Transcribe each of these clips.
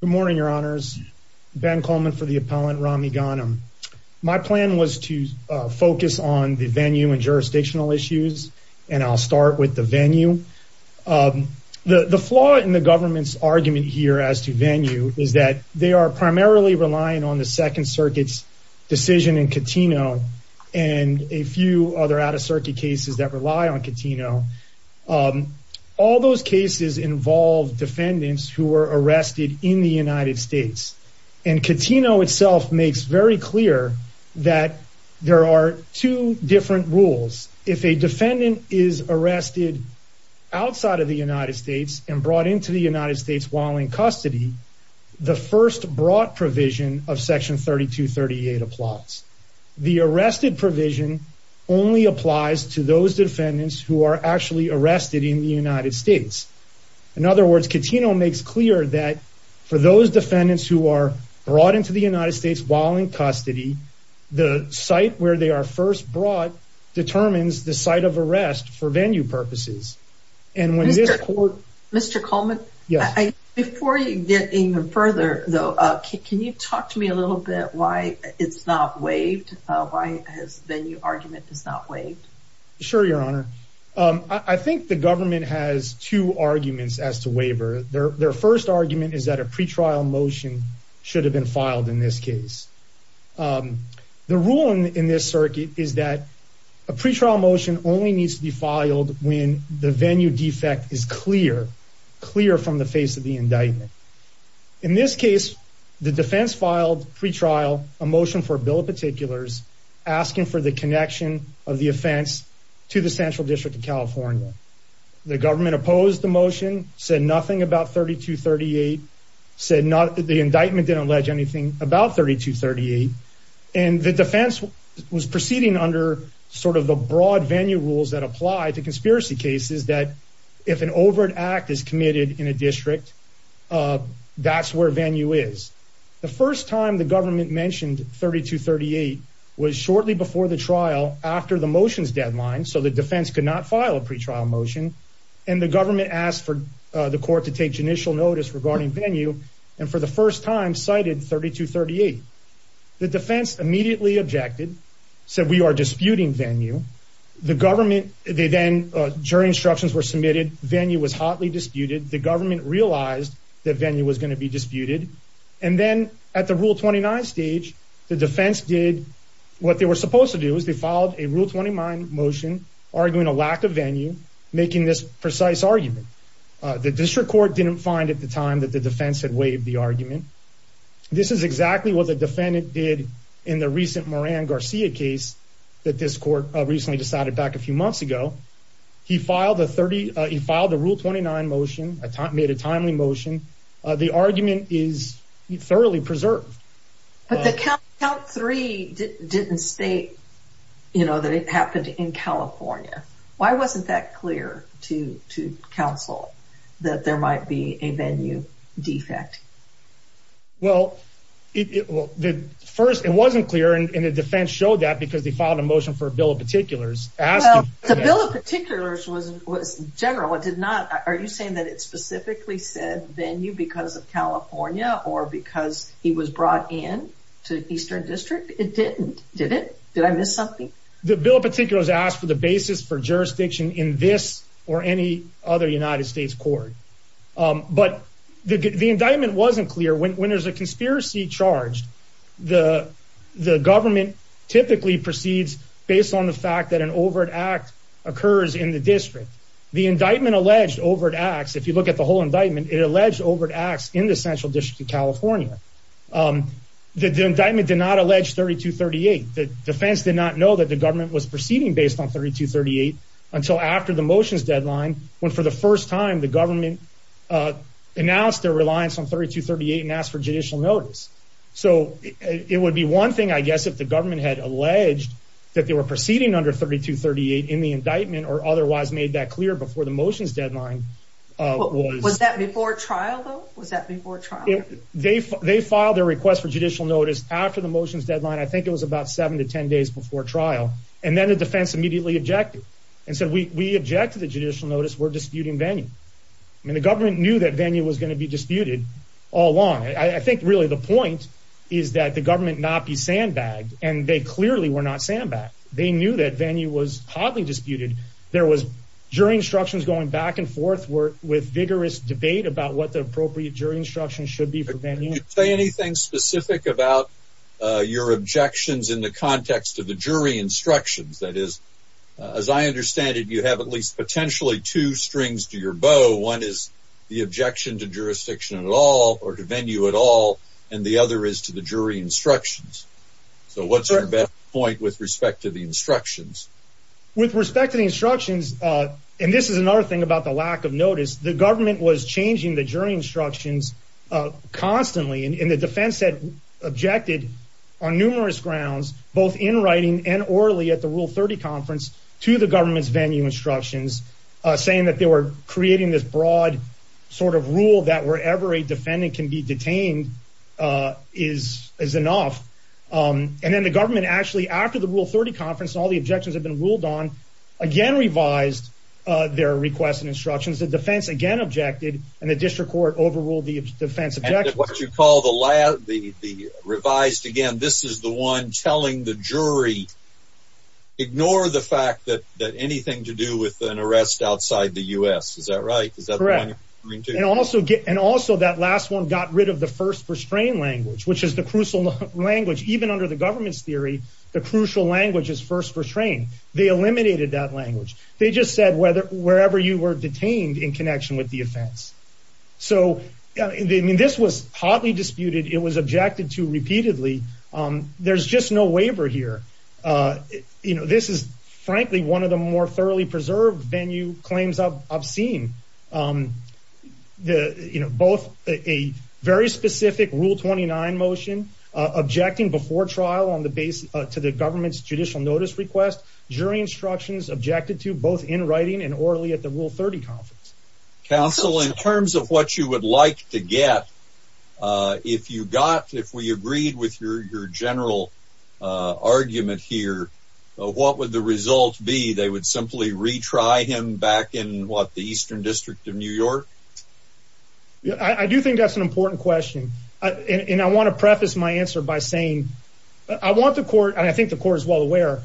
Good morning, your honors. Ben Coleman for the appellant Rami Ghanem. My plan was to focus on the venue and jurisdictional issues, and I'll start with the venue. The flaw in the government's argument here as to venue is that they are primarily relying on the Second Circuit's decision in Catino and a few other out-of-circuit cases that rely on Catino. All those cases involve defendants who were arrested in the United States, and Catino itself makes very clear that there are two different rules. If a defendant is arrested outside of the United States and brought into the United States while in custody, the first brought provision of Section 3238 applies. The arrested provision only applies to those defendants who are actually arrested in the United States. In other words, Catino makes clear that for those defendants who are brought into the United States while in custody, the site where they are first brought determines the site of arrest for venue purposes. Mr. Coleman, before you get even further, can you talk to me a little bit about why the venue argument is not waived? Sure, your honor. I think the government has two arguments as to waiver. Their first argument is that a pretrial motion should have been filed in this case. The rule in this circuit is that a pretrial motion only needs to be filed when the venue defect is clear, clear from the face of the indictment. In this case, the defense filed pretrial, a motion for a bill of particulars, asking for the connection of the offense to the Central District of California. The government opposed the motion, said nothing about 3238, said the indictment didn't allege anything about 3238. And the defense was proceeding under sort of the broad venue rules that apply to conspiracy cases that if an overt act is committed in a district, that's where venue is. The first time the government mentioned 3238 was shortly before the trial, after the motion's deadline, so the defense could not file a pretrial motion. And the government asked for the court to take initial notice regarding venue, and for the first time cited 3238. The defense immediately objected, said we are disputing venue. The government, they then, jury instructions were submitted, venue was hotly disputed. The government realized that venue was going to be disputed, and then at the Rule 29 stage, the defense did what they were supposed to do, is they filed a Rule 29 motion arguing a lack of venue, making this precise argument. The district court didn't find at the time that the defense had waived the argument. This is exactly what the defendant did in the recent Moran Garcia case that this court recently decided back a few months ago. He filed the Rule 29 motion, made a timely motion. The argument is thoroughly preserved. But the count three didn't state, you know, that it happened in California. Why wasn't that clear to counsel that there might be a venue defect? Well, first it wasn't clear, and the defense showed that because they filed a motion for a bill of particulars. The bill of particulars was general, it did not, are you saying that it specifically said venue because of California or because he was brought in to Eastern District? It didn't, did it? Did I miss something? The bill of particulars asked for the basis for jurisdiction in this or any other United States court. But the indictment wasn't clear. When there's a conspiracy charged, the government typically proceeds based on the fact that an overt act occurs in the district. The indictment alleged overt acts. If you look at the whole indictment, it alleged overt acts in the Central District of California. The indictment did not allege 3238. The defense did not know that the government was proceeding based on 3238 until after the motions deadline, when for the first time the government announced their reliance on 3238 and asked for judicial notice. So it would be one thing, I guess, if the government had alleged that they were proceeding under 3238 in the indictment or otherwise made that clear before the motions deadline. Was that before trial, though? Was that before trial? They filed their request for judicial notice after the motions deadline. I think it was about seven to ten days before trial. And then the defense immediately objected and said, we object to the judicial notice. We're disputing venue. I mean, the government knew that venue was going to be disputed all along. I think really the point is that the government not be sandbagged and they clearly were not sandbagged. They knew that venue was hotly disputed. There was jury instructions going back and forth with vigorous debate about what the appropriate jury instruction should be for venue. Can you say anything specific about your objections in the context of the jury instructions? That is, as I understand it, you have at least potentially two strings to your bow. One is the objection to jurisdiction at all or to venue at all, and the other is to the jury instructions. So what's your best point with respect to the instructions? With respect to the instructions, and this is another thing about the lack of notice, the government was changing the jury instructions constantly. And the defense had objected on numerous grounds, both in writing and orally at the Rule 30 conference, to the government's venue instructions, saying that they were creating this broad sort of rule that wherever a defendant can be detained is enough. And then the government actually, after the Rule 30 conference, all the objections had been ruled on, again revised their requests and instructions. The defense again objected, and the district court overruled the defense objection. And what you call the revised, again, this is the one telling the jury, ignore the fact that anything to do with an arrest outside the U.S., is that right? Correct. And also that last one got rid of the first restrained language, which is the crucial language. Even under the government's theory, the crucial language is first restrained. They eliminated that language. They just said wherever you were detained in connection with the offense. So this was hotly disputed. It was objected to repeatedly. There's just no waiver here. This is frankly one of the more thoroughly preserved venue claims I've seen. Both a very specific Rule 29 motion, objecting before trial to the government's judicial notice request, jury instructions, objected to both in writing and orally at the Rule 30 conference. Counsel, in terms of what you would like to get, if you got, if we agreed with your general argument here, what would the result be? They would simply retry him back in, what, the Eastern District of New York? I do think that's an important question, and I want to preface my answer by saying, I want the court, and I think the court is well aware,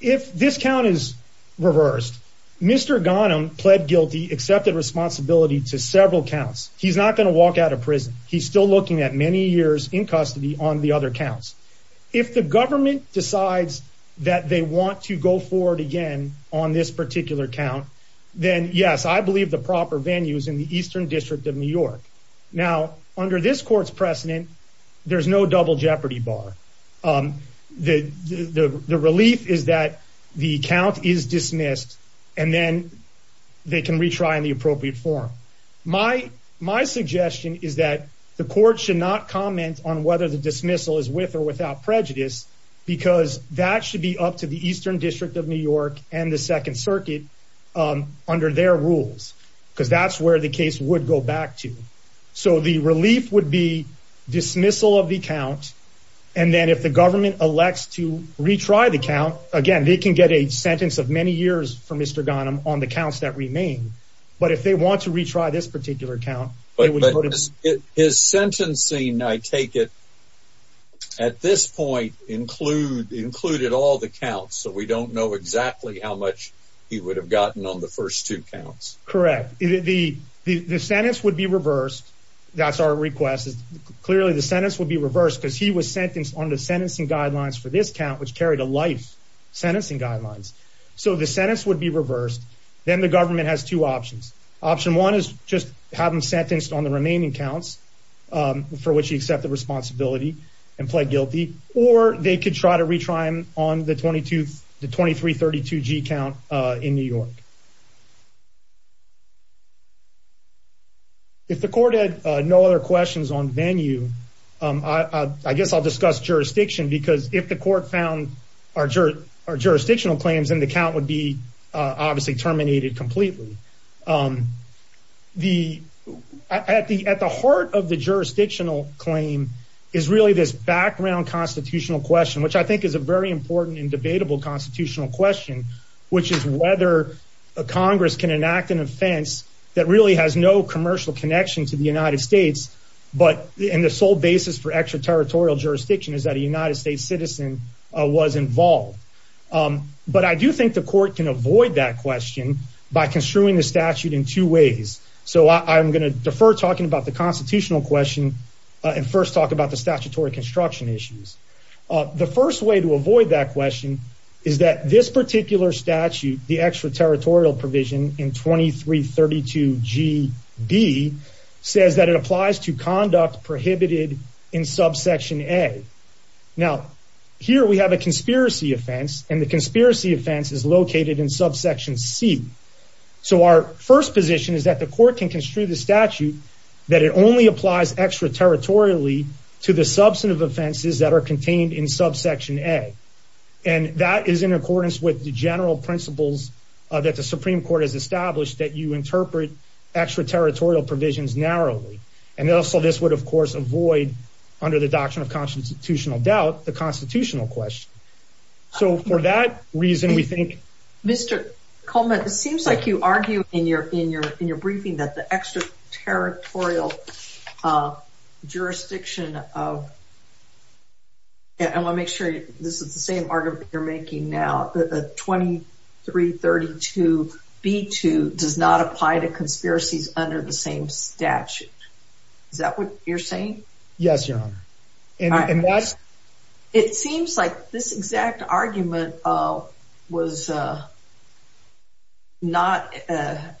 if this count is reversed, Mr. Ghanem pled guilty, accepted responsibility to several counts. He's not going to walk out of prison. He's still looking at many years in custody on the other counts. If the government decides that they want to go forward again on this particular count, then yes, I believe the proper venue is in the Eastern District of New York. Now, under this court's precedent, there's no double jeopardy bar. The relief is that the count is dismissed, and then they can retry in the appropriate form. My suggestion is that the court should not comment on whether the dismissal is with or without prejudice, because that should be up to the Eastern District of New York and the Second Circuit under their rules, because that's where the case would go back to. So the relief would be dismissal of the count, and then if the government elects to retry the count, again, they can get a sentence of many years for Mr. Ghanem on the counts that remain. But if they want to retry this particular count, they would vote against it. But his sentencing, I take it, at this point included all the counts, so we don't know exactly how much he would have gotten on the first two counts. Correct. The sentence would be reversed. That's our request. Clearly, the sentence would be reversed because he was sentenced under sentencing guidelines for this count, which carried a life sentencing guidelines. So the sentence would be reversed. Then the government has two options. Option one is just have him sentenced on the remaining counts for which he accepted responsibility and pled guilty, or they could try to retry him on the 2332G count in New York. If the court had no other questions on venue, I guess I'll discuss jurisdiction, because if the court found our jurisdictional claims, then the count would be obviously terminated completely. At the heart of the jurisdictional claim is really this background constitutional question, which I think is a very important and debatable constitutional question, which is whether Congress can enact an offense that really has no commercial connection to the United States, but the sole basis for extraterritorial jurisdiction is that a United States citizen was involved. But I do think the court can avoid that question by construing the statute in two ways. So I'm going to defer talking about the constitutional question and first talk about the statutory construction issues. The first way to avoid that question is that this particular statute, the extraterritorial provision in 2332GB, says that it applies to conduct prohibited in subsection A. Now, here we have a conspiracy offense, and the conspiracy offense is located in subsection C. So our first position is that the court can construe the statute that it only applies extraterritorially to the substantive offenses that are contained in subsection A. And that is in accordance with the general principles that the Supreme Court has established that you interpret extraterritorial provisions narrowly. And also, this would, of course, avoid, under the doctrine of constitutional doubt, the constitutional question. So for that reason, we think... Mr. Coleman, it seems like you argue in your briefing that the extraterritorial jurisdiction of... I want to make sure this is the same argument you're making now, that the 2332B2 does not apply to conspiracies under the same statute. Is that what you're saying? Yes, Your Honor. And that's... It seems like this exact argument was not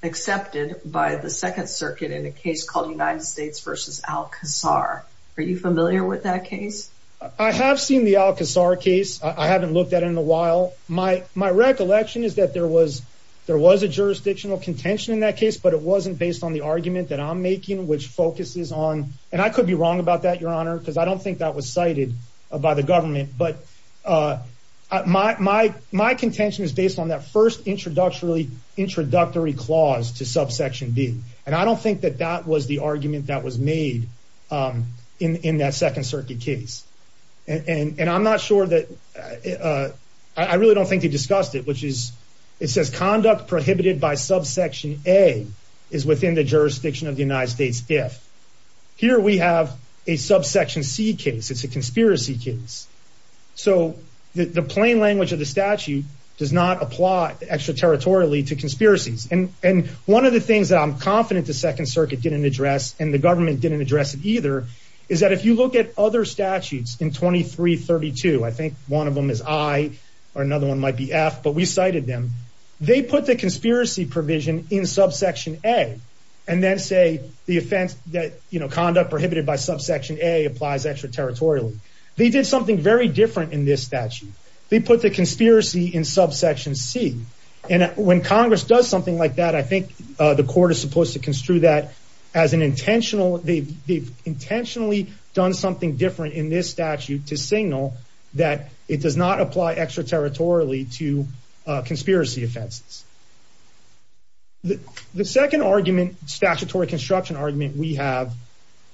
accepted by the Second Circuit in a case called United States v. Al-Qasar. Are you familiar with that case? I have seen the Al-Qasar case. I haven't looked at it in a while. My recollection is that there was a jurisdictional contention in that case, but it wasn't based on the argument that I'm making, which focuses on... And I could be wrong about that, Your Honor, because I don't think that was cited by the government. But my contention is based on that first introductory clause to subsection B. And I don't think that that was the argument that was made in that Second Circuit case. And I'm not sure that... I really don't think they discussed it, which is... It says conduct prohibited by subsection A is within the jurisdiction of the United States if... Here we have a subsection C case. It's a conspiracy case. So the plain language of the statute does not apply extraterritorially to conspiracies. And one of the things that I'm confident the Second Circuit didn't address, and the government didn't address it either, is that if you look at other statutes in 2332, I think one of them is I or another one might be F, but we cited them, they put the conspiracy provision in subsection A and then say the offense... Conduct prohibited by subsection A applies extraterritorially. They did something very different in this statute. They put the conspiracy in subsection C. And when Congress does something like that, I think the court is supposed to construe that as an intentional... They've intentionally done something different in this statute to signal that it does not apply extraterritorially to conspiracy offenses. The second argument, statutory construction argument we have,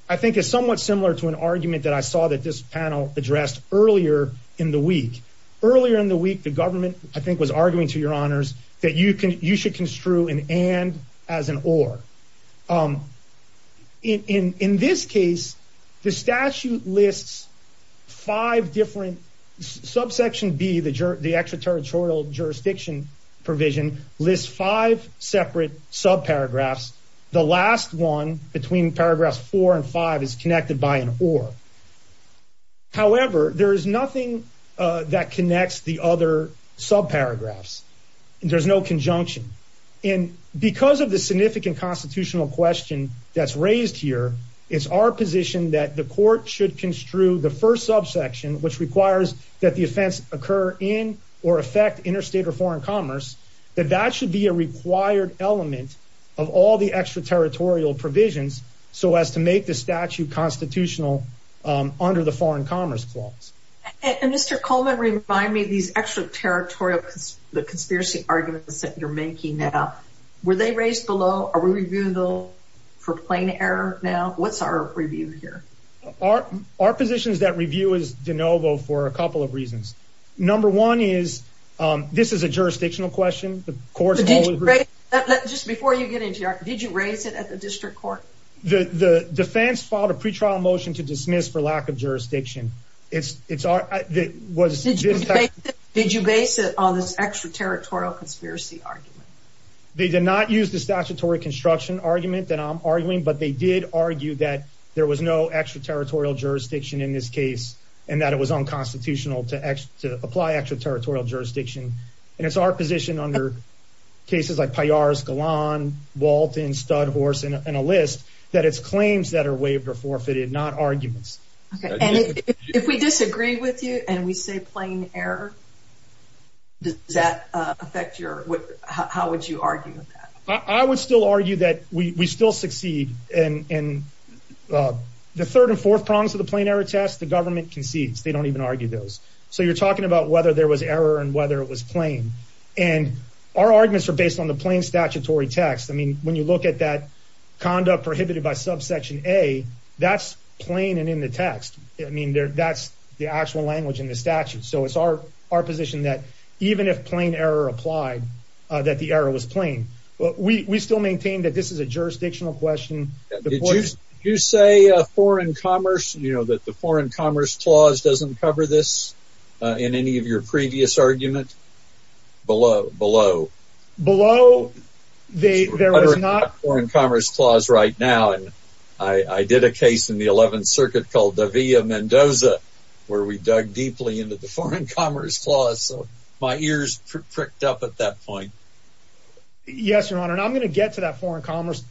I think is somewhat similar to an argument that I saw that this panel addressed earlier in the week. Earlier in the week, the government, I think, was arguing to your honors that you should construe an and as an or. In this case, the statute lists five different... Subsection B, the extraterritorial jurisdiction provision, lists five separate subparagraphs. The last one between paragraphs four and five is connected by an or. However, there is nothing that connects the other subparagraphs. There's no conjunction. And because of the significant constitutional question that's raised here, it's our position that the court should construe the first subsection, which requires that the offense occur in or affect interstate or foreign commerce, that that should be a required element of all the extraterritorial provisions so as to make the statute constitutional under the foreign commerce clause. And Mr. Coleman, remind me, these extraterritorial conspiracy arguments that you're making now, were they raised below? Are we reviewing them for plain error now? What's our review here? Our position is that review is de novo for a couple of reasons. Number one is this is a jurisdictional question. The court's always... But did you raise... Just before you get into your... Did you raise it at the district court? The defense filed a pretrial motion to dismiss for lack of jurisdiction. Did you base it on this extraterritorial conspiracy argument? They did not use the statutory construction argument that I'm arguing, but they did argue that there was no extraterritorial jurisdiction in this case and that it was unconstitutional to apply extraterritorial jurisdiction. And it's our position under cases like Payar's, Galan, Walton, Studhorse, and a list that it's claims that are waived or forfeited, not arguments. And if we disagree with you and we say plain error, does that affect your... How would you argue with that? I would still argue that we still succeed. And the third and fourth prongs of the plain error test, the government concedes. They don't even argue those. So you're talking about whether there was error and whether it was plain. And our arguments are based on the plain statutory text. I mean, when you look at that conduct prohibited by subsection A, that's plain and in the text. I mean, that's the actual language in the statute. So it's our position that even if plain error applied, that the error was plain. We still maintain that this is a jurisdictional question. Did you say foreign commerce, you know, that the Foreign Commerce Clause doesn't cover this in any of your previous arguments? Below. Below. Below? There is not a Foreign Commerce Clause right now. And I did a case in the 11th Circuit called the Villa Mendoza, where we dug deeply into the Foreign Commerce Clause. So my ears pricked up at that point. Yes, Your Honor, and I'm going to get to that Foreign Commerce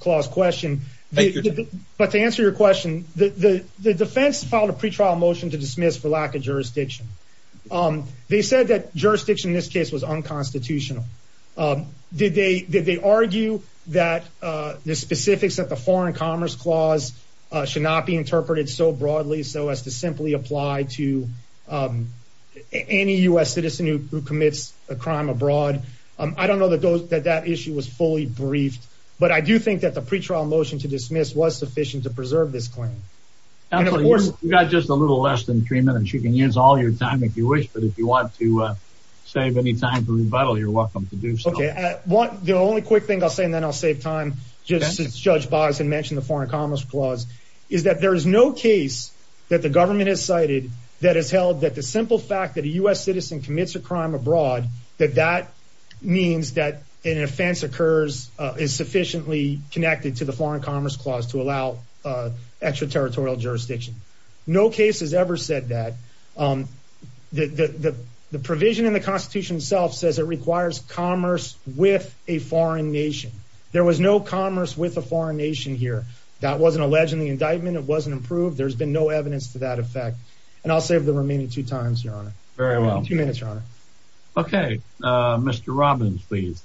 Clause question. But to answer your question, the defense filed a pretrial motion to dismiss for lack of jurisdiction. They said that jurisdiction in this case was unconstitutional. Did they argue that the specifics of the Foreign Commerce Clause should not be interpreted so broadly so as to simply apply to any U.S. citizen who commits a crime abroad? I don't know that that issue was fully briefed, but I do think that the pretrial motion to dismiss was sufficient to preserve this claim. Absolutely. You've got just a little less than three minutes. You can use all your time if you wish, but if you want to save any time for rebuttal, you're welcome to do so. Okay. The only quick thing I'll say, and then I'll save time, since Judge Boggs had mentioned the Foreign Commerce Clause, is that there is no case that the government has cited that has held that the simple fact that a U.S. citizen commits a crime abroad, that that means that an offense is sufficiently connected to the Foreign Commerce Clause to allow extraterritorial jurisdiction. No case has ever said that. The provision in the Constitution itself says it requires commerce with a foreign nation. There was no commerce with a foreign nation here. That wasn't alleged in the indictment. It wasn't approved. There's been no evidence to that effect. And I'll save the remaining two times, Your Honor. Very well. Two minutes, Your Honor. Okay. Mr. Robbins, please.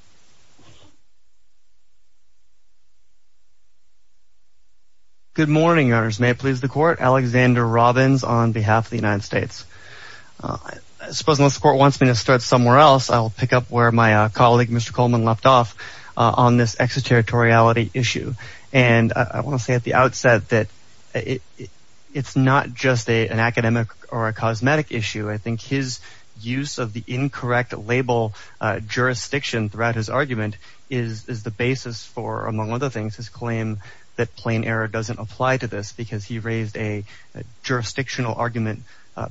Good morning, Your Honors. May it please the Court? Alexander Robbins on behalf of the United States. I suppose unless the Court wants me to start somewhere else, I'll pick up where my colleague, Mr. Coleman, left off on this extraterritoriality issue. And I want to say at the outset that it's not just an academic or a cosmetic issue. I think his use of the incorrect label jurisdiction throughout his argument is the basis for, among other things, his claim that plain error doesn't apply to this because he raised a jurisdictional argument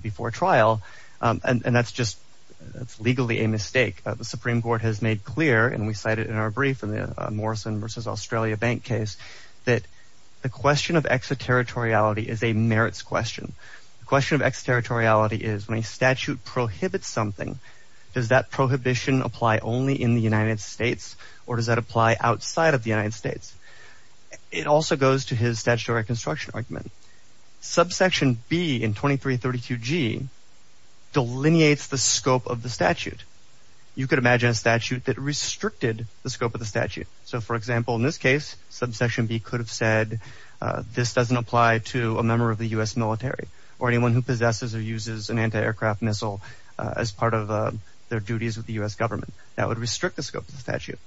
before trial. And that's just legally a mistake. The Supreme Court has made clear, and we cited in our brief in the Morrison v. Australia Bank case, that the question of extraterritoriality is a merits question. The question of extraterritoriality is when a statute prohibits something, does that prohibition apply only in the United States or does that apply outside of the United States? It also goes to his statutory construction argument. Subsection B in 2332G delineates the scope of the statute. You could imagine a statute that restricted the scope of the statute. So, for example, in this case, subsection B could have said this doesn't apply to a member of the U.S. military or anyone who possesses or uses an anti-aircraft missile as part of their duties with the U.S. government. That would restrict the scope of the statute.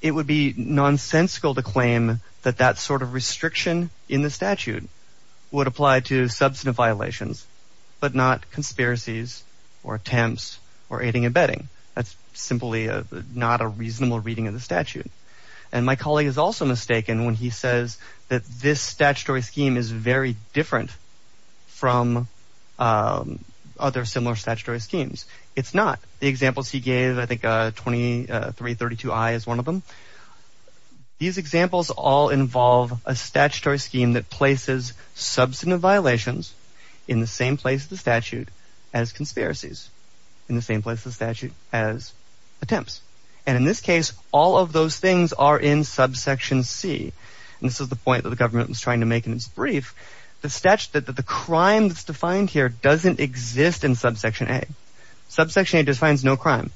It would be nonsensical to claim that that sort of restriction in the statute would apply to substantive violations, but not conspiracies or attempts or aiding and abetting. That's simply not a reasonable reading of the statute. And my colleague is also mistaken when he says that this statutory scheme is very different from other similar statutory schemes. It's not. The examples he gave, I think 2332I is one of them. These examples all involve a statutory scheme that places substantive violations in the same place of the statute as conspiracies, in the same place of the statute as attempts. And in this case, all of those things are in subsection C. And this is the point that the government was trying to make in its brief. The crime that's defined here doesn't exist in subsection A. Subsection A defines no crime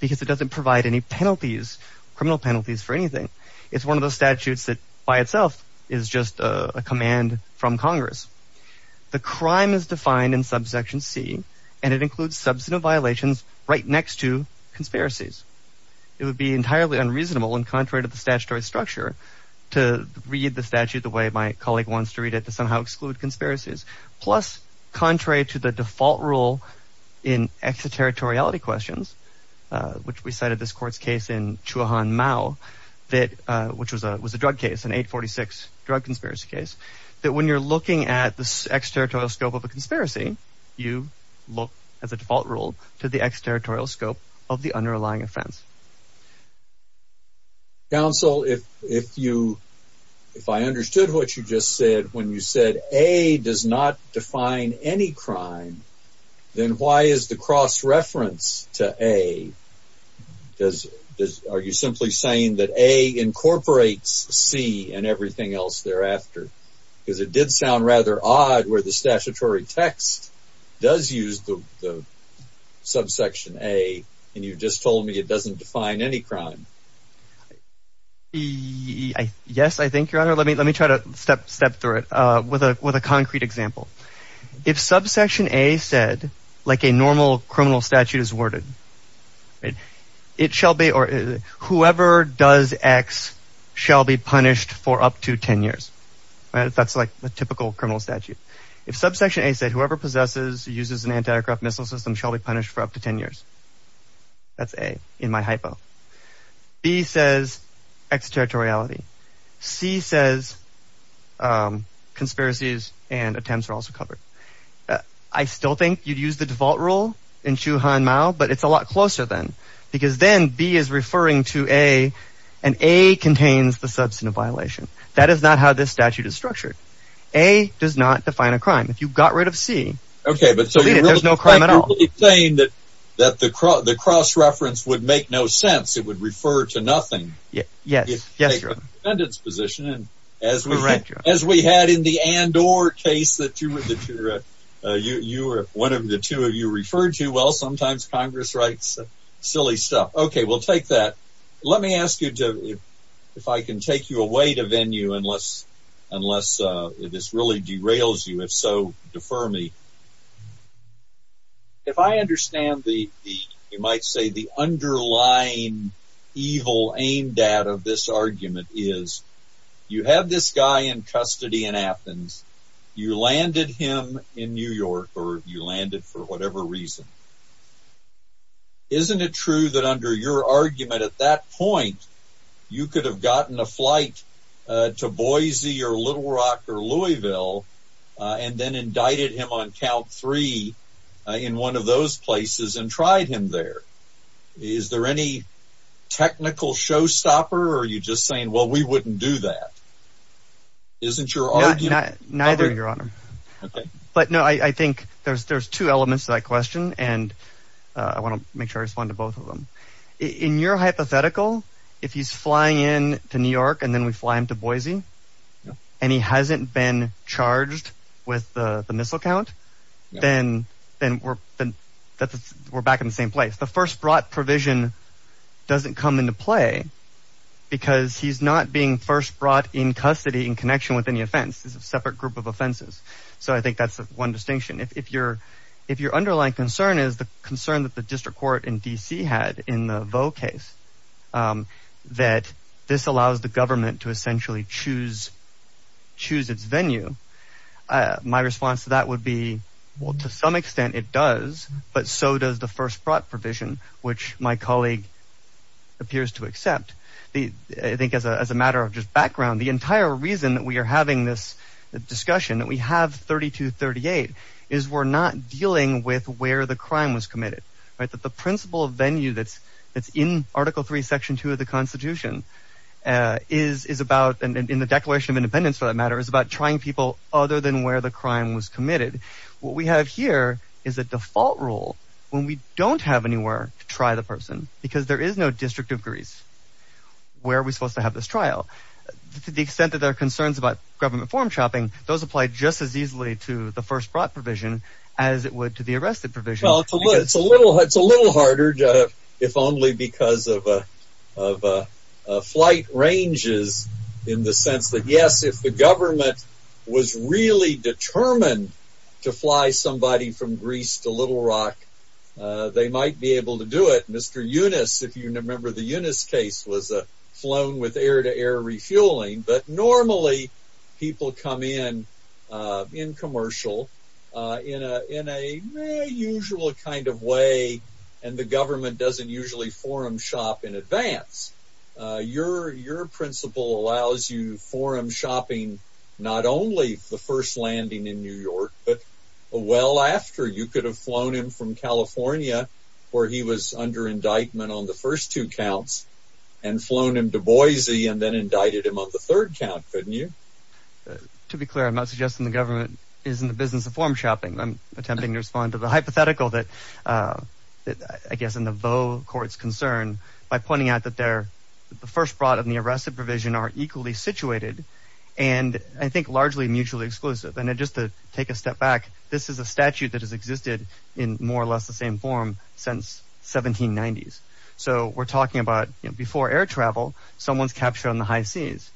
because it doesn't provide any penalties, criminal penalties for anything. It's one of those statutes that by itself is just a command from Congress. The crime is defined in subsection C, and it includes substantive violations right next to conspiracies. It would be entirely unreasonable and contrary to the statutory structure to read the statute the way my colleague wants to read it, to somehow exclude conspiracies. Plus, contrary to the default rule in extraterritoriality questions, which we cited this court's case in Chuahan Mao, which was a drug case, an 846 drug conspiracy case, that when you're looking at the extraterritorial scope of a conspiracy, you look, as a default rule, to the extraterritorial scope of the underlying offense. Counsel, if I understood what you just said, when you said A does not define any crime, then why is the cross-reference to A? Are you simply saying that A incorporates C and everything else thereafter? Because it did sound rather odd where the statutory text does use the subsection A, and you just told me it doesn't define any crime. Yes, I think, Your Honor. Let me try to step through it with a concrete example. If subsection A said, like a normal criminal statute is worded, whoever does X shall be punished for up to 10 years. That's like a typical criminal statute. If subsection A said, whoever possesses or uses an anti-aircraft missile system shall be punished for up to 10 years. That's A in my hypo. B says extraterritoriality. C says conspiracies and attempts are also covered. I still think you'd use the default rule in Xu Han Mao, but it's a lot closer then. Because then B is referring to A, and A contains the substantive violation. That is not how this statute is structured. A does not define a crime. If you got rid of C, there's no crime at all. You're saying that the cross-reference would make no sense. It would refer to nothing. Yes, Your Honor. As we had in the Andor case that one of the two of you referred to, well, sometimes Congress writes silly stuff. Okay, we'll take that. Let me ask you if I can take you away to venue, unless this really derails you. If so, defer me. If I understand, you might say, the underlying evil aimed at of this argument is, you have this guy in custody in Athens. You landed him in New York, or you landed for whatever reason. Isn't it true that under your argument at that point, you could have gotten a flight to Boise or Little Rock or Louisville and then indicted him on count three in one of those places and tried him there? Is there any technical showstopper, or are you just saying, well, we wouldn't do that? Isn't your argument… Neither, Your Honor. Okay. But, no, I think there's two elements to that question, and I want to make sure I respond to both of them. In your hypothetical, if he's flying in to New York and then we fly him to Boise, and he hasn't been charged with the missile count, then we're back in the same place. The first brought provision doesn't come into play because he's not being first brought in custody in connection with any offense. It's a separate group of offenses. So I think that's one distinction. If your underlying concern is the concern that the district court in D.C. had in the Vaux case, that this allows the government to essentially choose its venue, my response to that would be, well, to some extent it does, but so does the first brought provision, which my colleague appears to accept. I think as a matter of just background, the entire reason that we are having this discussion, that we have 3238, is we're not dealing with where the crime was committed. The principle of venue that's in Article III, Section 2 of the Constitution, is about, in the Declaration of Independence for that matter, is about trying people other than where the crime was committed. What we have here is a default rule when we don't have anywhere to try the person because there is no district of Greece where we're supposed to have this trial. To the extent that there are concerns about government form shopping, those apply just as easily to the first brought provision as it would to the arrested provision. It's a little harder if only because of flight ranges in the sense that, yes, if the government was really determined to fly somebody from Greece to Little Rock, they might be able to do it. Mr. Yunus, if you remember the Yunus case, was flown with air-to-air refueling, but normally people come in, in commercial, in a usual kind of way, and the government doesn't usually forum shop in advance. Your principle allows you forum shopping not only the first landing in New York, but well after. You could have flown him from California where he was under indictment on the first two counts and flown him to Boise and then indicted him on the third count, couldn't you? To be clear, I'm not suggesting the government is in the business of forum shopping. I'm attempting to respond to the hypothetical that I guess in the Vaux court's concern by pointing out that the first brought and the arrested provision are equally situated and I think largely mutually exclusive. Just to take a step back, this is a statute that has existed in more or less the same form since 1790s. So we're talking about before air travel, someone's captured on the high seas.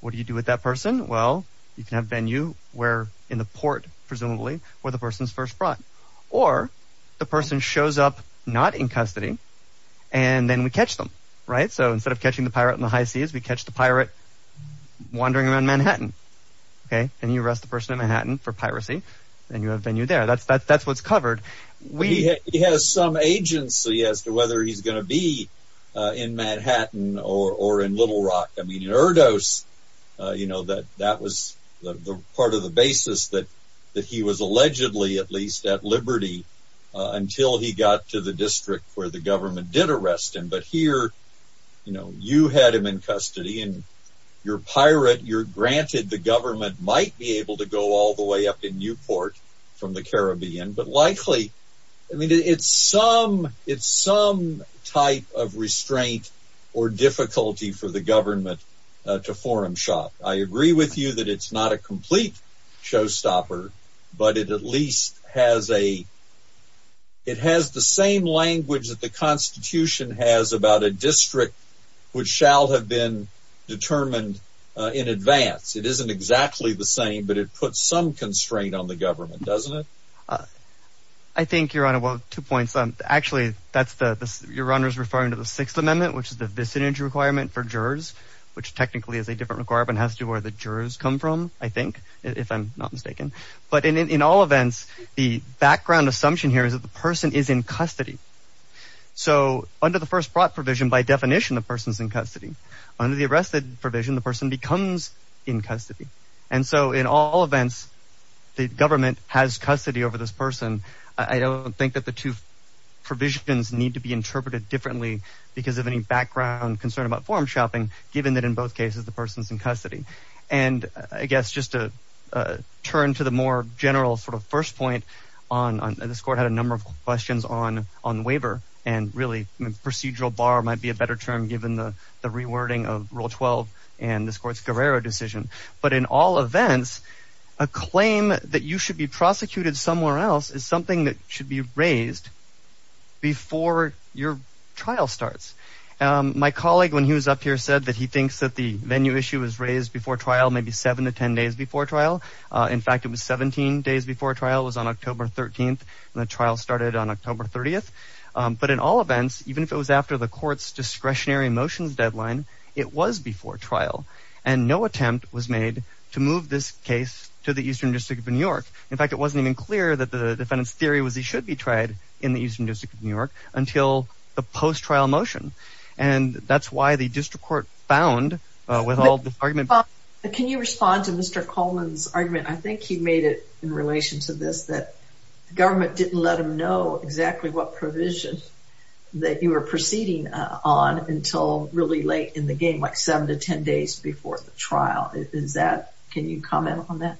What do you do with that person? Well, you can have venue where in the port presumably where the person's first brought or the person shows up not in custody and then we catch them. So instead of catching the pirate in the high seas, we catch the pirate wandering around Manhattan and you arrest the person in Manhattan for piracy and you have venue there. That's what's covered. He has some agency as to whether he's going to be in Manhattan or in Little Rock. I mean, in Erdos, that was part of the basis that he was allegedly at least at liberty until he got to the district where the government did arrest him. But here, you had him in custody and you're a pirate. Granted, the government might be able to go all the way up in Newport from the Caribbean, but likely it's some type of restraint or difficulty for the government to forum shop. I agree with you that it's not a complete showstopper, but it at least has the same language that the Constitution has about a district which shall have been determined in advance. It isn't exactly the same, but it puts some constraint on the government, doesn't it? I think, Your Honor, well, two points. Actually, Your Honor is referring to the Sixth Amendment, which is the vicinage requirement for jurors, which technically is a different requirement. It has to do with where the jurors come from, I think, if I'm not mistaken. But in all events, the background assumption here is that the person is in custody. So under the first brought provision, by definition, the person is in custody. Under the arrested provision, the person becomes in custody. And so in all events, the government has custody over this person. I don't think that the two provisions need to be interpreted differently because of any background concern about forum shopping, given that in both cases the person is in custody. And I guess just to turn to the more general sort of first point, this Court had a number of questions on waiver, and really procedural bar might be a better term given the rewording of Rule 12 and this Court's Guerrero decision. But in all events, a claim that you should be prosecuted somewhere else is something that should be raised before your trial starts. My colleague, when he was up here, said that he thinks that the venue issue was raised before trial, maybe 7 to 10 days before trial. In fact, it was 17 days before trial. It was on October 13, and the trial started on October 30. But in all events, even if it was after the Court's discretionary motions deadline, it was before trial. And no attempt was made to move this case to the Eastern District of New York. In fact, it wasn't even clear that the defendant's theory was he should be tried in the Eastern District of New York until the post-trial motion. And that's why the District Court found, with all the argument. Can you respond to Mr. Coleman's argument? I think he made it in relation to this, that the government didn't let him know exactly what provision that you were proceeding on until really late in the game, like 7 to 10 days before the trial. Can you comment on that?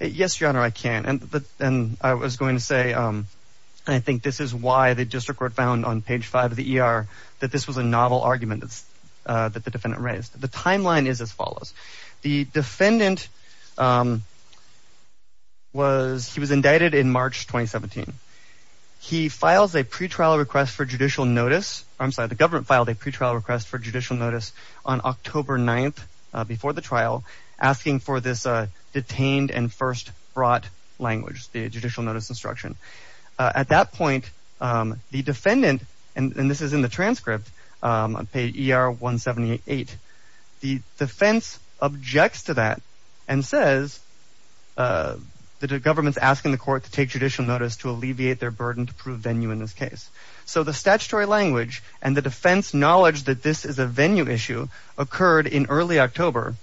Yes, Your Honor, I can. And I was going to say, I think this is why the District Court found on page 5 of the ER that this was a novel argument that the defendant raised. The timeline is as follows. The defendant was indicted in March 2017. He files a pretrial request for judicial notice. I'm sorry, the government filed a pretrial request for judicial notice on October 9th, before the trial, asking for this detained and first brought language, the judicial notice instruction. At that point, the defendant, and this is in the transcript, on page ER 178, the defense objects to that and says that the government is asking the court to take judicial notice to alleviate their burden to prove venue in this case. So the statutory language and the defense knowledge that this is a venue issue occurred in early October,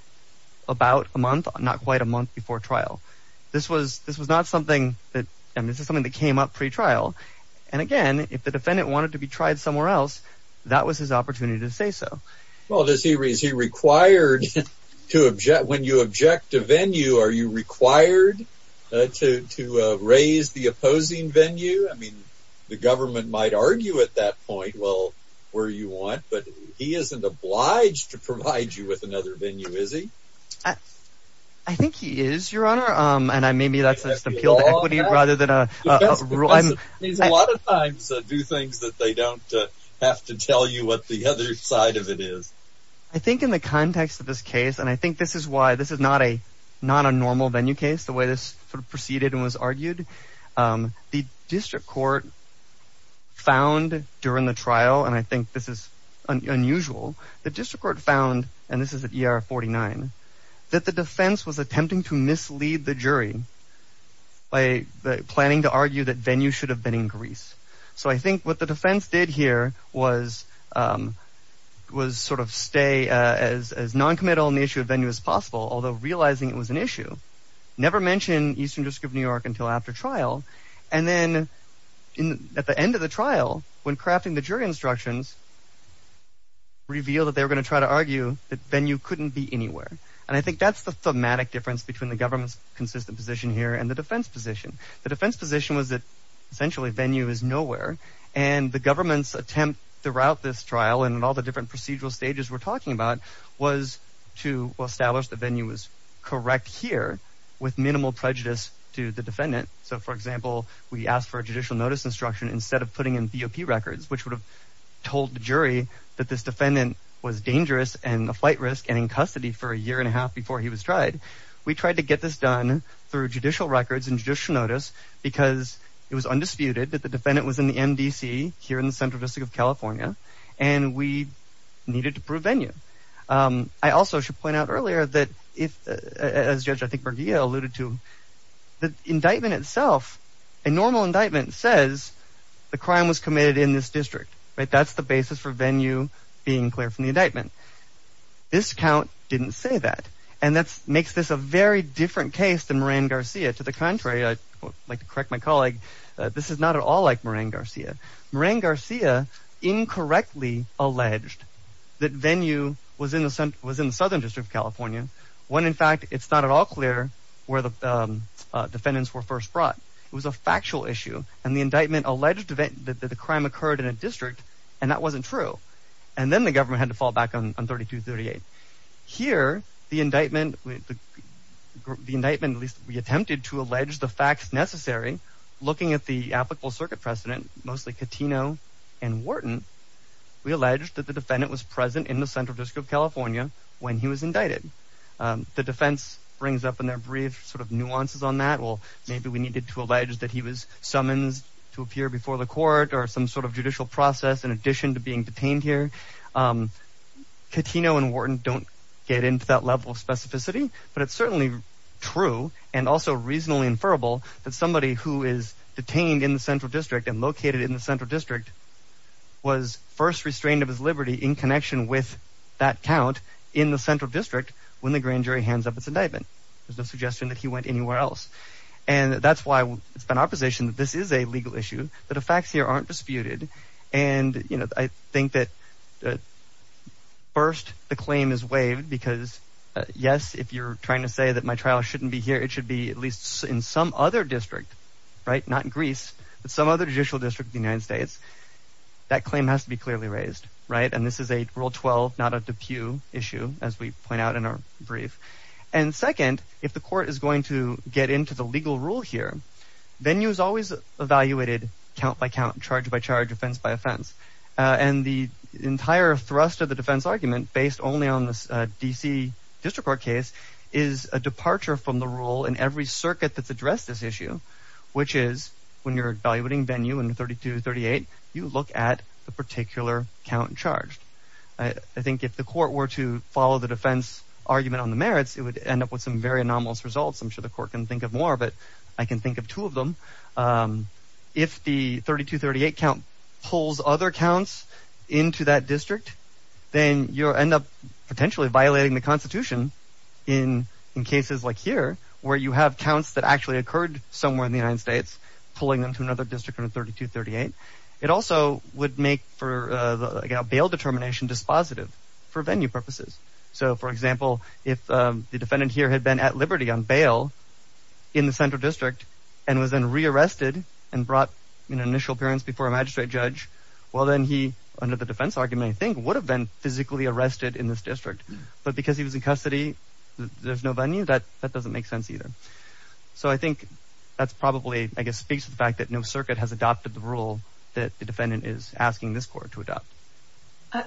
about a month, not quite a month before trial. This was not something that came up pretrial. And again, if the defendant wanted to be tried somewhere else, that was his opportunity to say so. Well, is he required to object? When you object to venue, are you required to raise the opposing venue? I mean, the government might argue at that point, well, where you want, but he isn't obliged to provide you with another venue, is he? I think he is, Your Honor, and maybe that's just appeal to equity rather than a rule. Because a lot of times, they don't have to tell you what the other side of it is. I think in the context of this case, and I think this is why this is not a normal venue case, the way this proceeded and was argued, the district court found during the trial, and I think this is unusual, the district court found, and this is at ER 49, that the defense was attempting to mislead the jury by planning to argue that venue should have been in Greece. So I think what the defense did here was sort of stay as noncommittal on the issue of venue as possible, although realizing it was an issue, never mentioned Eastern District of New York until after trial, and then at the end of the trial, when crafting the jury instructions, revealed that they were going to try to argue that venue couldn't be anywhere. And I think that's the thematic difference between the government's consistent position here and the defense position. The defense position was that essentially venue is nowhere, and the government's attempt throughout this trial and in all the different procedural stages we're talking about was to establish that venue was correct here with minimal prejudice to the defendant. So for example, we asked for a judicial notice instruction instead of putting in BOP records, which would have told the jury that this defendant was dangerous and a flight risk and in custody for a year and a half before he was tried. We tried to get this done through judicial records and judicial notice because it was undisputed that the defendant was in the MDC here in the Central District of California, and we needed to prove venue. I also should point out earlier that if, as Judge I think Bergia alluded to, the indictment itself, a normal indictment, says the crime was committed in this district. That's the basis for venue being clear from the indictment. This count didn't say that, and that makes this a very different case than Moran-Garcia. To the contrary, I'd like to correct my colleague, this is not at all like Moran-Garcia. Moran-Garcia incorrectly alleged that venue was in the Southern District of California when in fact it's not at all clear where the defendants were first brought. It was a factual issue, and the indictment alleged that the crime occurred in a district, and that wasn't true. And then the government had to fall back on 3238. Here, the indictment, we attempted to allege the facts necessary looking at the applicable circuit precedent, mostly Catino and Wharton, we alleged that the defendant was present in the Central District of California when he was indicted. The defense brings up in their brief sort of nuances on that. Well, maybe we needed to allege that he was summonsed to appear before the court or some sort of judicial process in addition to being detained here. Catino and Wharton don't get into that level of specificity, but it's certainly true and also reasonably inferable that somebody who is detained in the Central District and located in the Central District was first restrained of his liberty in connection with that count in the Central District when the grand jury hands up its indictment. There's no suggestion that he went anywhere else. And that's why it's been our position that this is a legal issue, that the facts here aren't disputed, and, you know, I think that first the claim is waived because, yes, if you're trying to say that my trial shouldn't be here, it should be at least in some other district, right? Not in Greece, but some other judicial district in the United States. That claim has to be clearly raised, right? And this is a Rule 12, not a DePuy issue, as we point out in our brief. And second, if the court is going to get into the legal rule here, venue is always evaluated count by count, charge by charge, offense by offense. And the entire thrust of the defense argument, based only on the D.C. District Court case, is a departure from the rule in every circuit that's addressed this issue, which is when you're evaluating venue in 3238, you look at the particular count charged. I think if the court were to follow the defense argument on the merits, it would end up with some very anomalous results. I'm sure the court can think of more, but I can think of two of them. If the 3238 count pulls other counts into that district, then you end up potentially violating the Constitution in cases like here, where you have counts that actually occurred somewhere in the United States, pulling them to another district on 3238. It also would make for, again, a bail determination dispositive for venue purposes. So, for example, if the defendant here had been at liberty on bail in the central district and was then rearrested and brought in an initial appearance before a magistrate judge, well then he, under the defense argument, I think, would have been physically arrested in this district. But because he was in custody, there's no venue, that doesn't make sense either. So I think that probably speaks to the fact that no circuit has adopted the rule that the defendant is asking this court to adopt.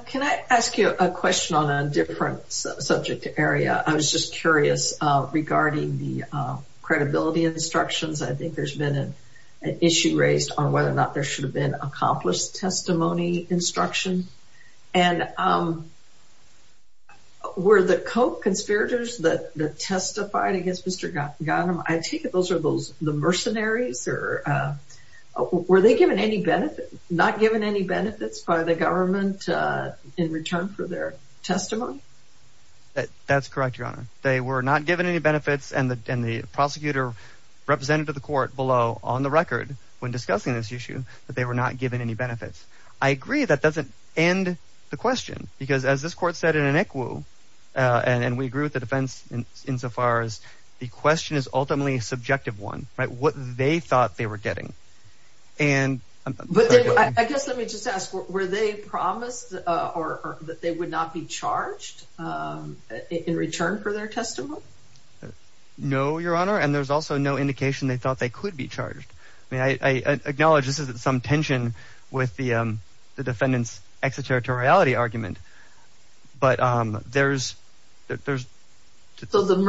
Can I ask you a question on a different subject area? I was just curious regarding the credibility instructions. I think there's been an issue raised on whether or not there should have been accomplished testimony instruction. And were the co-conspirators that testified against Mr. Gautam, I take it those are the mercenaries? Were they given any benefits? Not given any benefits by the government in return for their testimony? That's correct, Your Honor. They were not given any benefits, and the prosecutor representative of the court below, on the record when discussing this issue, that they were not given any benefits. I agree that doesn't end the question because, as this court said in an equu, and we agree with the defense insofar as the question is ultimately a subjective one. What they thought they were getting. But I guess let me just ask, were they promised that they would not be charged in return for their testimony? No, Your Honor, and there's also no indication they thought they could be charged. I acknowledge this is some tension with the defendant's extraterritoriality argument, but as far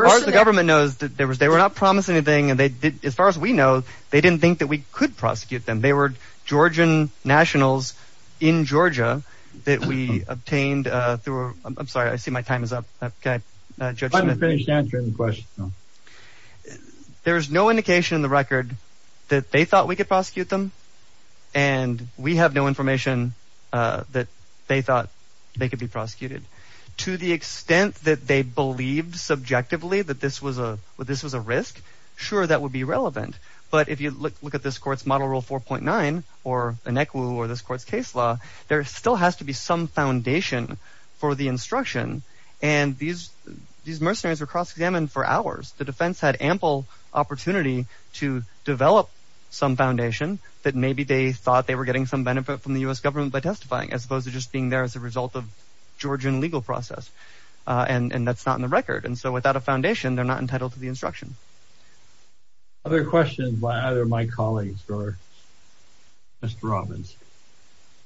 as the government knows, they were not promised anything, and as far as we know, they didn't think that we could prosecute them. They were Georgian nationals in Georgia that we obtained through, I'm sorry, I see my time is up. Judge Smith. Let me finish answering the question. There is no indication in the record that they thought we could prosecute them, and we have no information that they thought they could be prosecuted. To the extent that they believed subjectively that this was a risk, sure, that would be relevant, but if you look at this court's Model Rule 4.9, or Inekwu, or this court's case law, there still has to be some foundation for the instruction, and these mercenaries were cross-examined for hours. The defense had ample opportunity to develop some foundation that maybe they thought they were getting some benefit from the U.S. government by testifying, as opposed to just being there as a result of Georgian legal process, and that's not in the record. And so without a foundation, they're not entitled to the instruction. Other questions by either my colleagues or Mr. Robbins?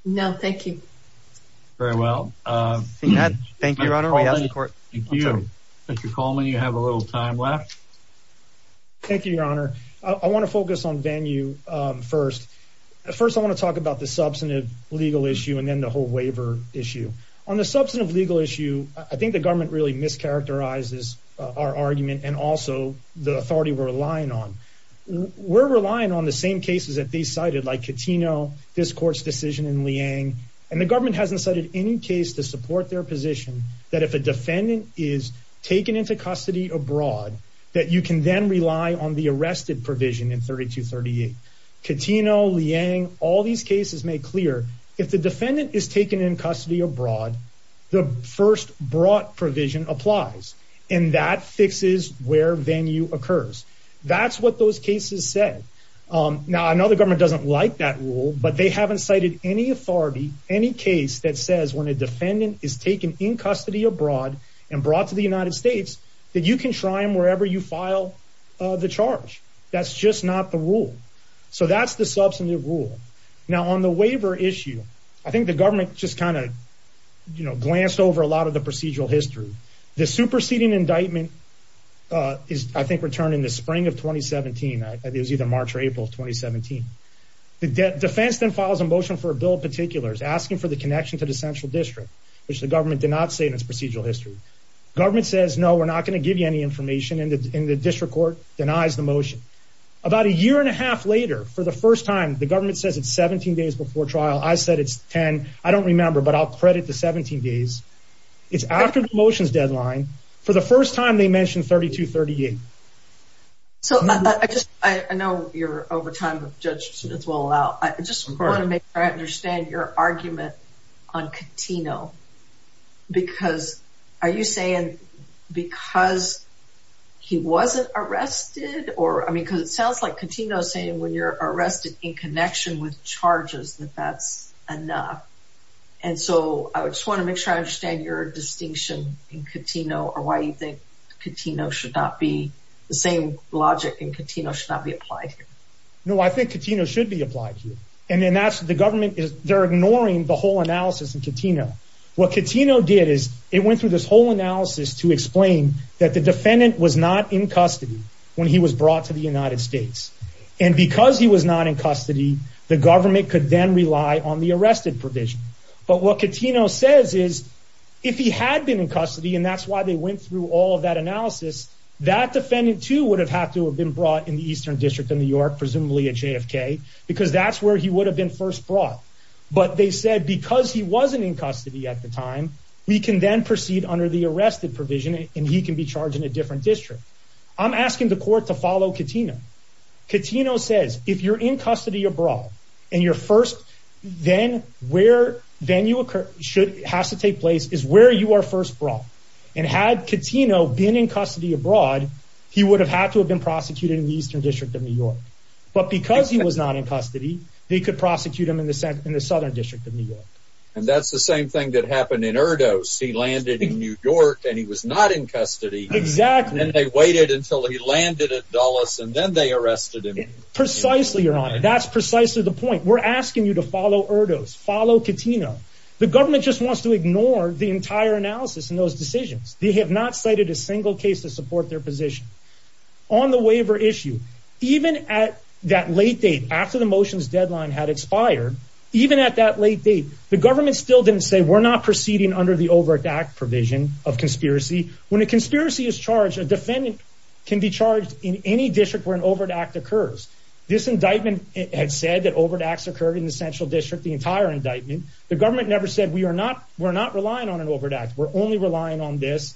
No, thank you. Very well. Thank you, Your Honor. Thank you. Mr. Coleman, you have a little time left. Thank you, Your Honor. I want to focus on Van U first. First, I want to talk about the substantive legal issue and then the whole waiver issue. On the substantive legal issue, I think the government really mischaracterizes our argument and also the authority we're relying on. We're relying on the same cases that they cited, like Catino, this court's decision in Liang, and the government hasn't cited any case to support their position that if a defendant is taken into custody abroad, that you can then rely on the arrested provision in 3238. Catino, Liang, all these cases make clear if the defendant is taken in custody abroad, the first brought provision applies, and that fixes where Van U occurs. That's what those cases said. Now, I know the government doesn't like that rule, but they haven't cited any authority, any case that says when a defendant is taken in custody abroad and brought to the United States, that you can try them wherever you file the charge. That's just not the rule. So that's the substantive rule. Now, on the waiver issue, I think the government just kind of glanced over a lot of the procedural history. The superseding indictment is, I think, returned in the spring of 2017. It was either March or April of 2017. The defense then files a motion for a bill of particulars asking for the connection to the central district, which the government did not say in its procedural history. Government says, no, we're not going to give you any information, and the district court denies the motion. About a year and a half later, for the first time, the government says it's 17 days before trial. I said it's 10. I don't remember, but I'll credit the 17 days. It's after the motion's deadline. For the first time, they mention 3238. So I know you're over time, but Judge Smith will allow. I just want to make sure I understand your argument on Contino, because are you saying because he wasn't arrested? Because it sounds like Contino is saying when you're arrested in connection with charges, that that's enough. So I just want to make sure I understand your distinction in Contino or why you think Contino should not be the same logic and Contino should not be applied here. No, I think Contino should be applied here. The government, they're ignoring the whole analysis in Contino. What Contino did is it went through this whole analysis to explain that the defendant was not in custody when he was brought to the United States. And because he was not in custody, the government could then rely on the arrested provision. But what Contino says is if he had been in custody, and that's why they went through all of that analysis, that defendant too would have had to have been brought in the Eastern District of New York, presumably at JFK, because that's where he would have been first brought. But they said because he wasn't in custody at the time, we can then proceed under the arrested provision and he can be charged in a different district. I'm asking the court to follow Contino. Contino says if you're in custody abroad and you're first, then where, then you should, has to take place is where you are first brought. And had Contino been in custody abroad, he would have had to have been prosecuted in the Eastern District of New York. But because he was not in custody, they could prosecute him in the Southern District of New York. And that's the same thing that happened in Erdos. He landed in New York and he was not in custody. Exactly. And they waited until he landed at Dulles, and then they arrested him. Precisely, Your Honor. That's precisely the point. We're asking you to follow Erdos. Follow Contino. The government just wants to ignore the entire analysis and those decisions. They have not cited a single case to support their position. On the waiver issue, even at that late date, after the motion's deadline had expired, even at that late date, the government still didn't say, we're not proceeding under the Overt Act provision of conspiracy. When a conspiracy is charged, a defendant can be charged in any district where an Overt Act occurs. This indictment had said that Overt Acts occurred in the Central District, the entire indictment. The government never said, we're not relying on an Overt Act. We're only relying on this.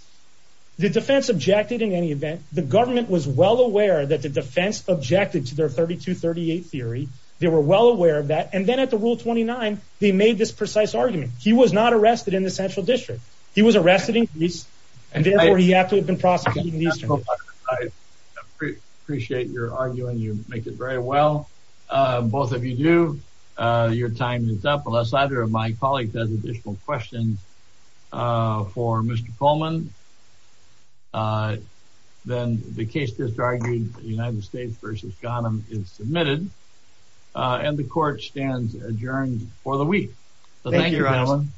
The defense objected in any event. The government was well aware that the defense objected to their 3238 theory. They were well aware of that. Then at the Rule 29, they made this precise argument. He was not arrested in the Central District. He was arrested in East. Therefore, he would have to have been prosecuted in the Eastern District. I appreciate your argument. You make it very well. Both of you do. Your time is up, unless either of my colleagues has additional questions for Mr. Coleman. Then the case disargued, United States v. Ghanem, is submitted. The court stands adjourned for the week. Thank you, gentlemen.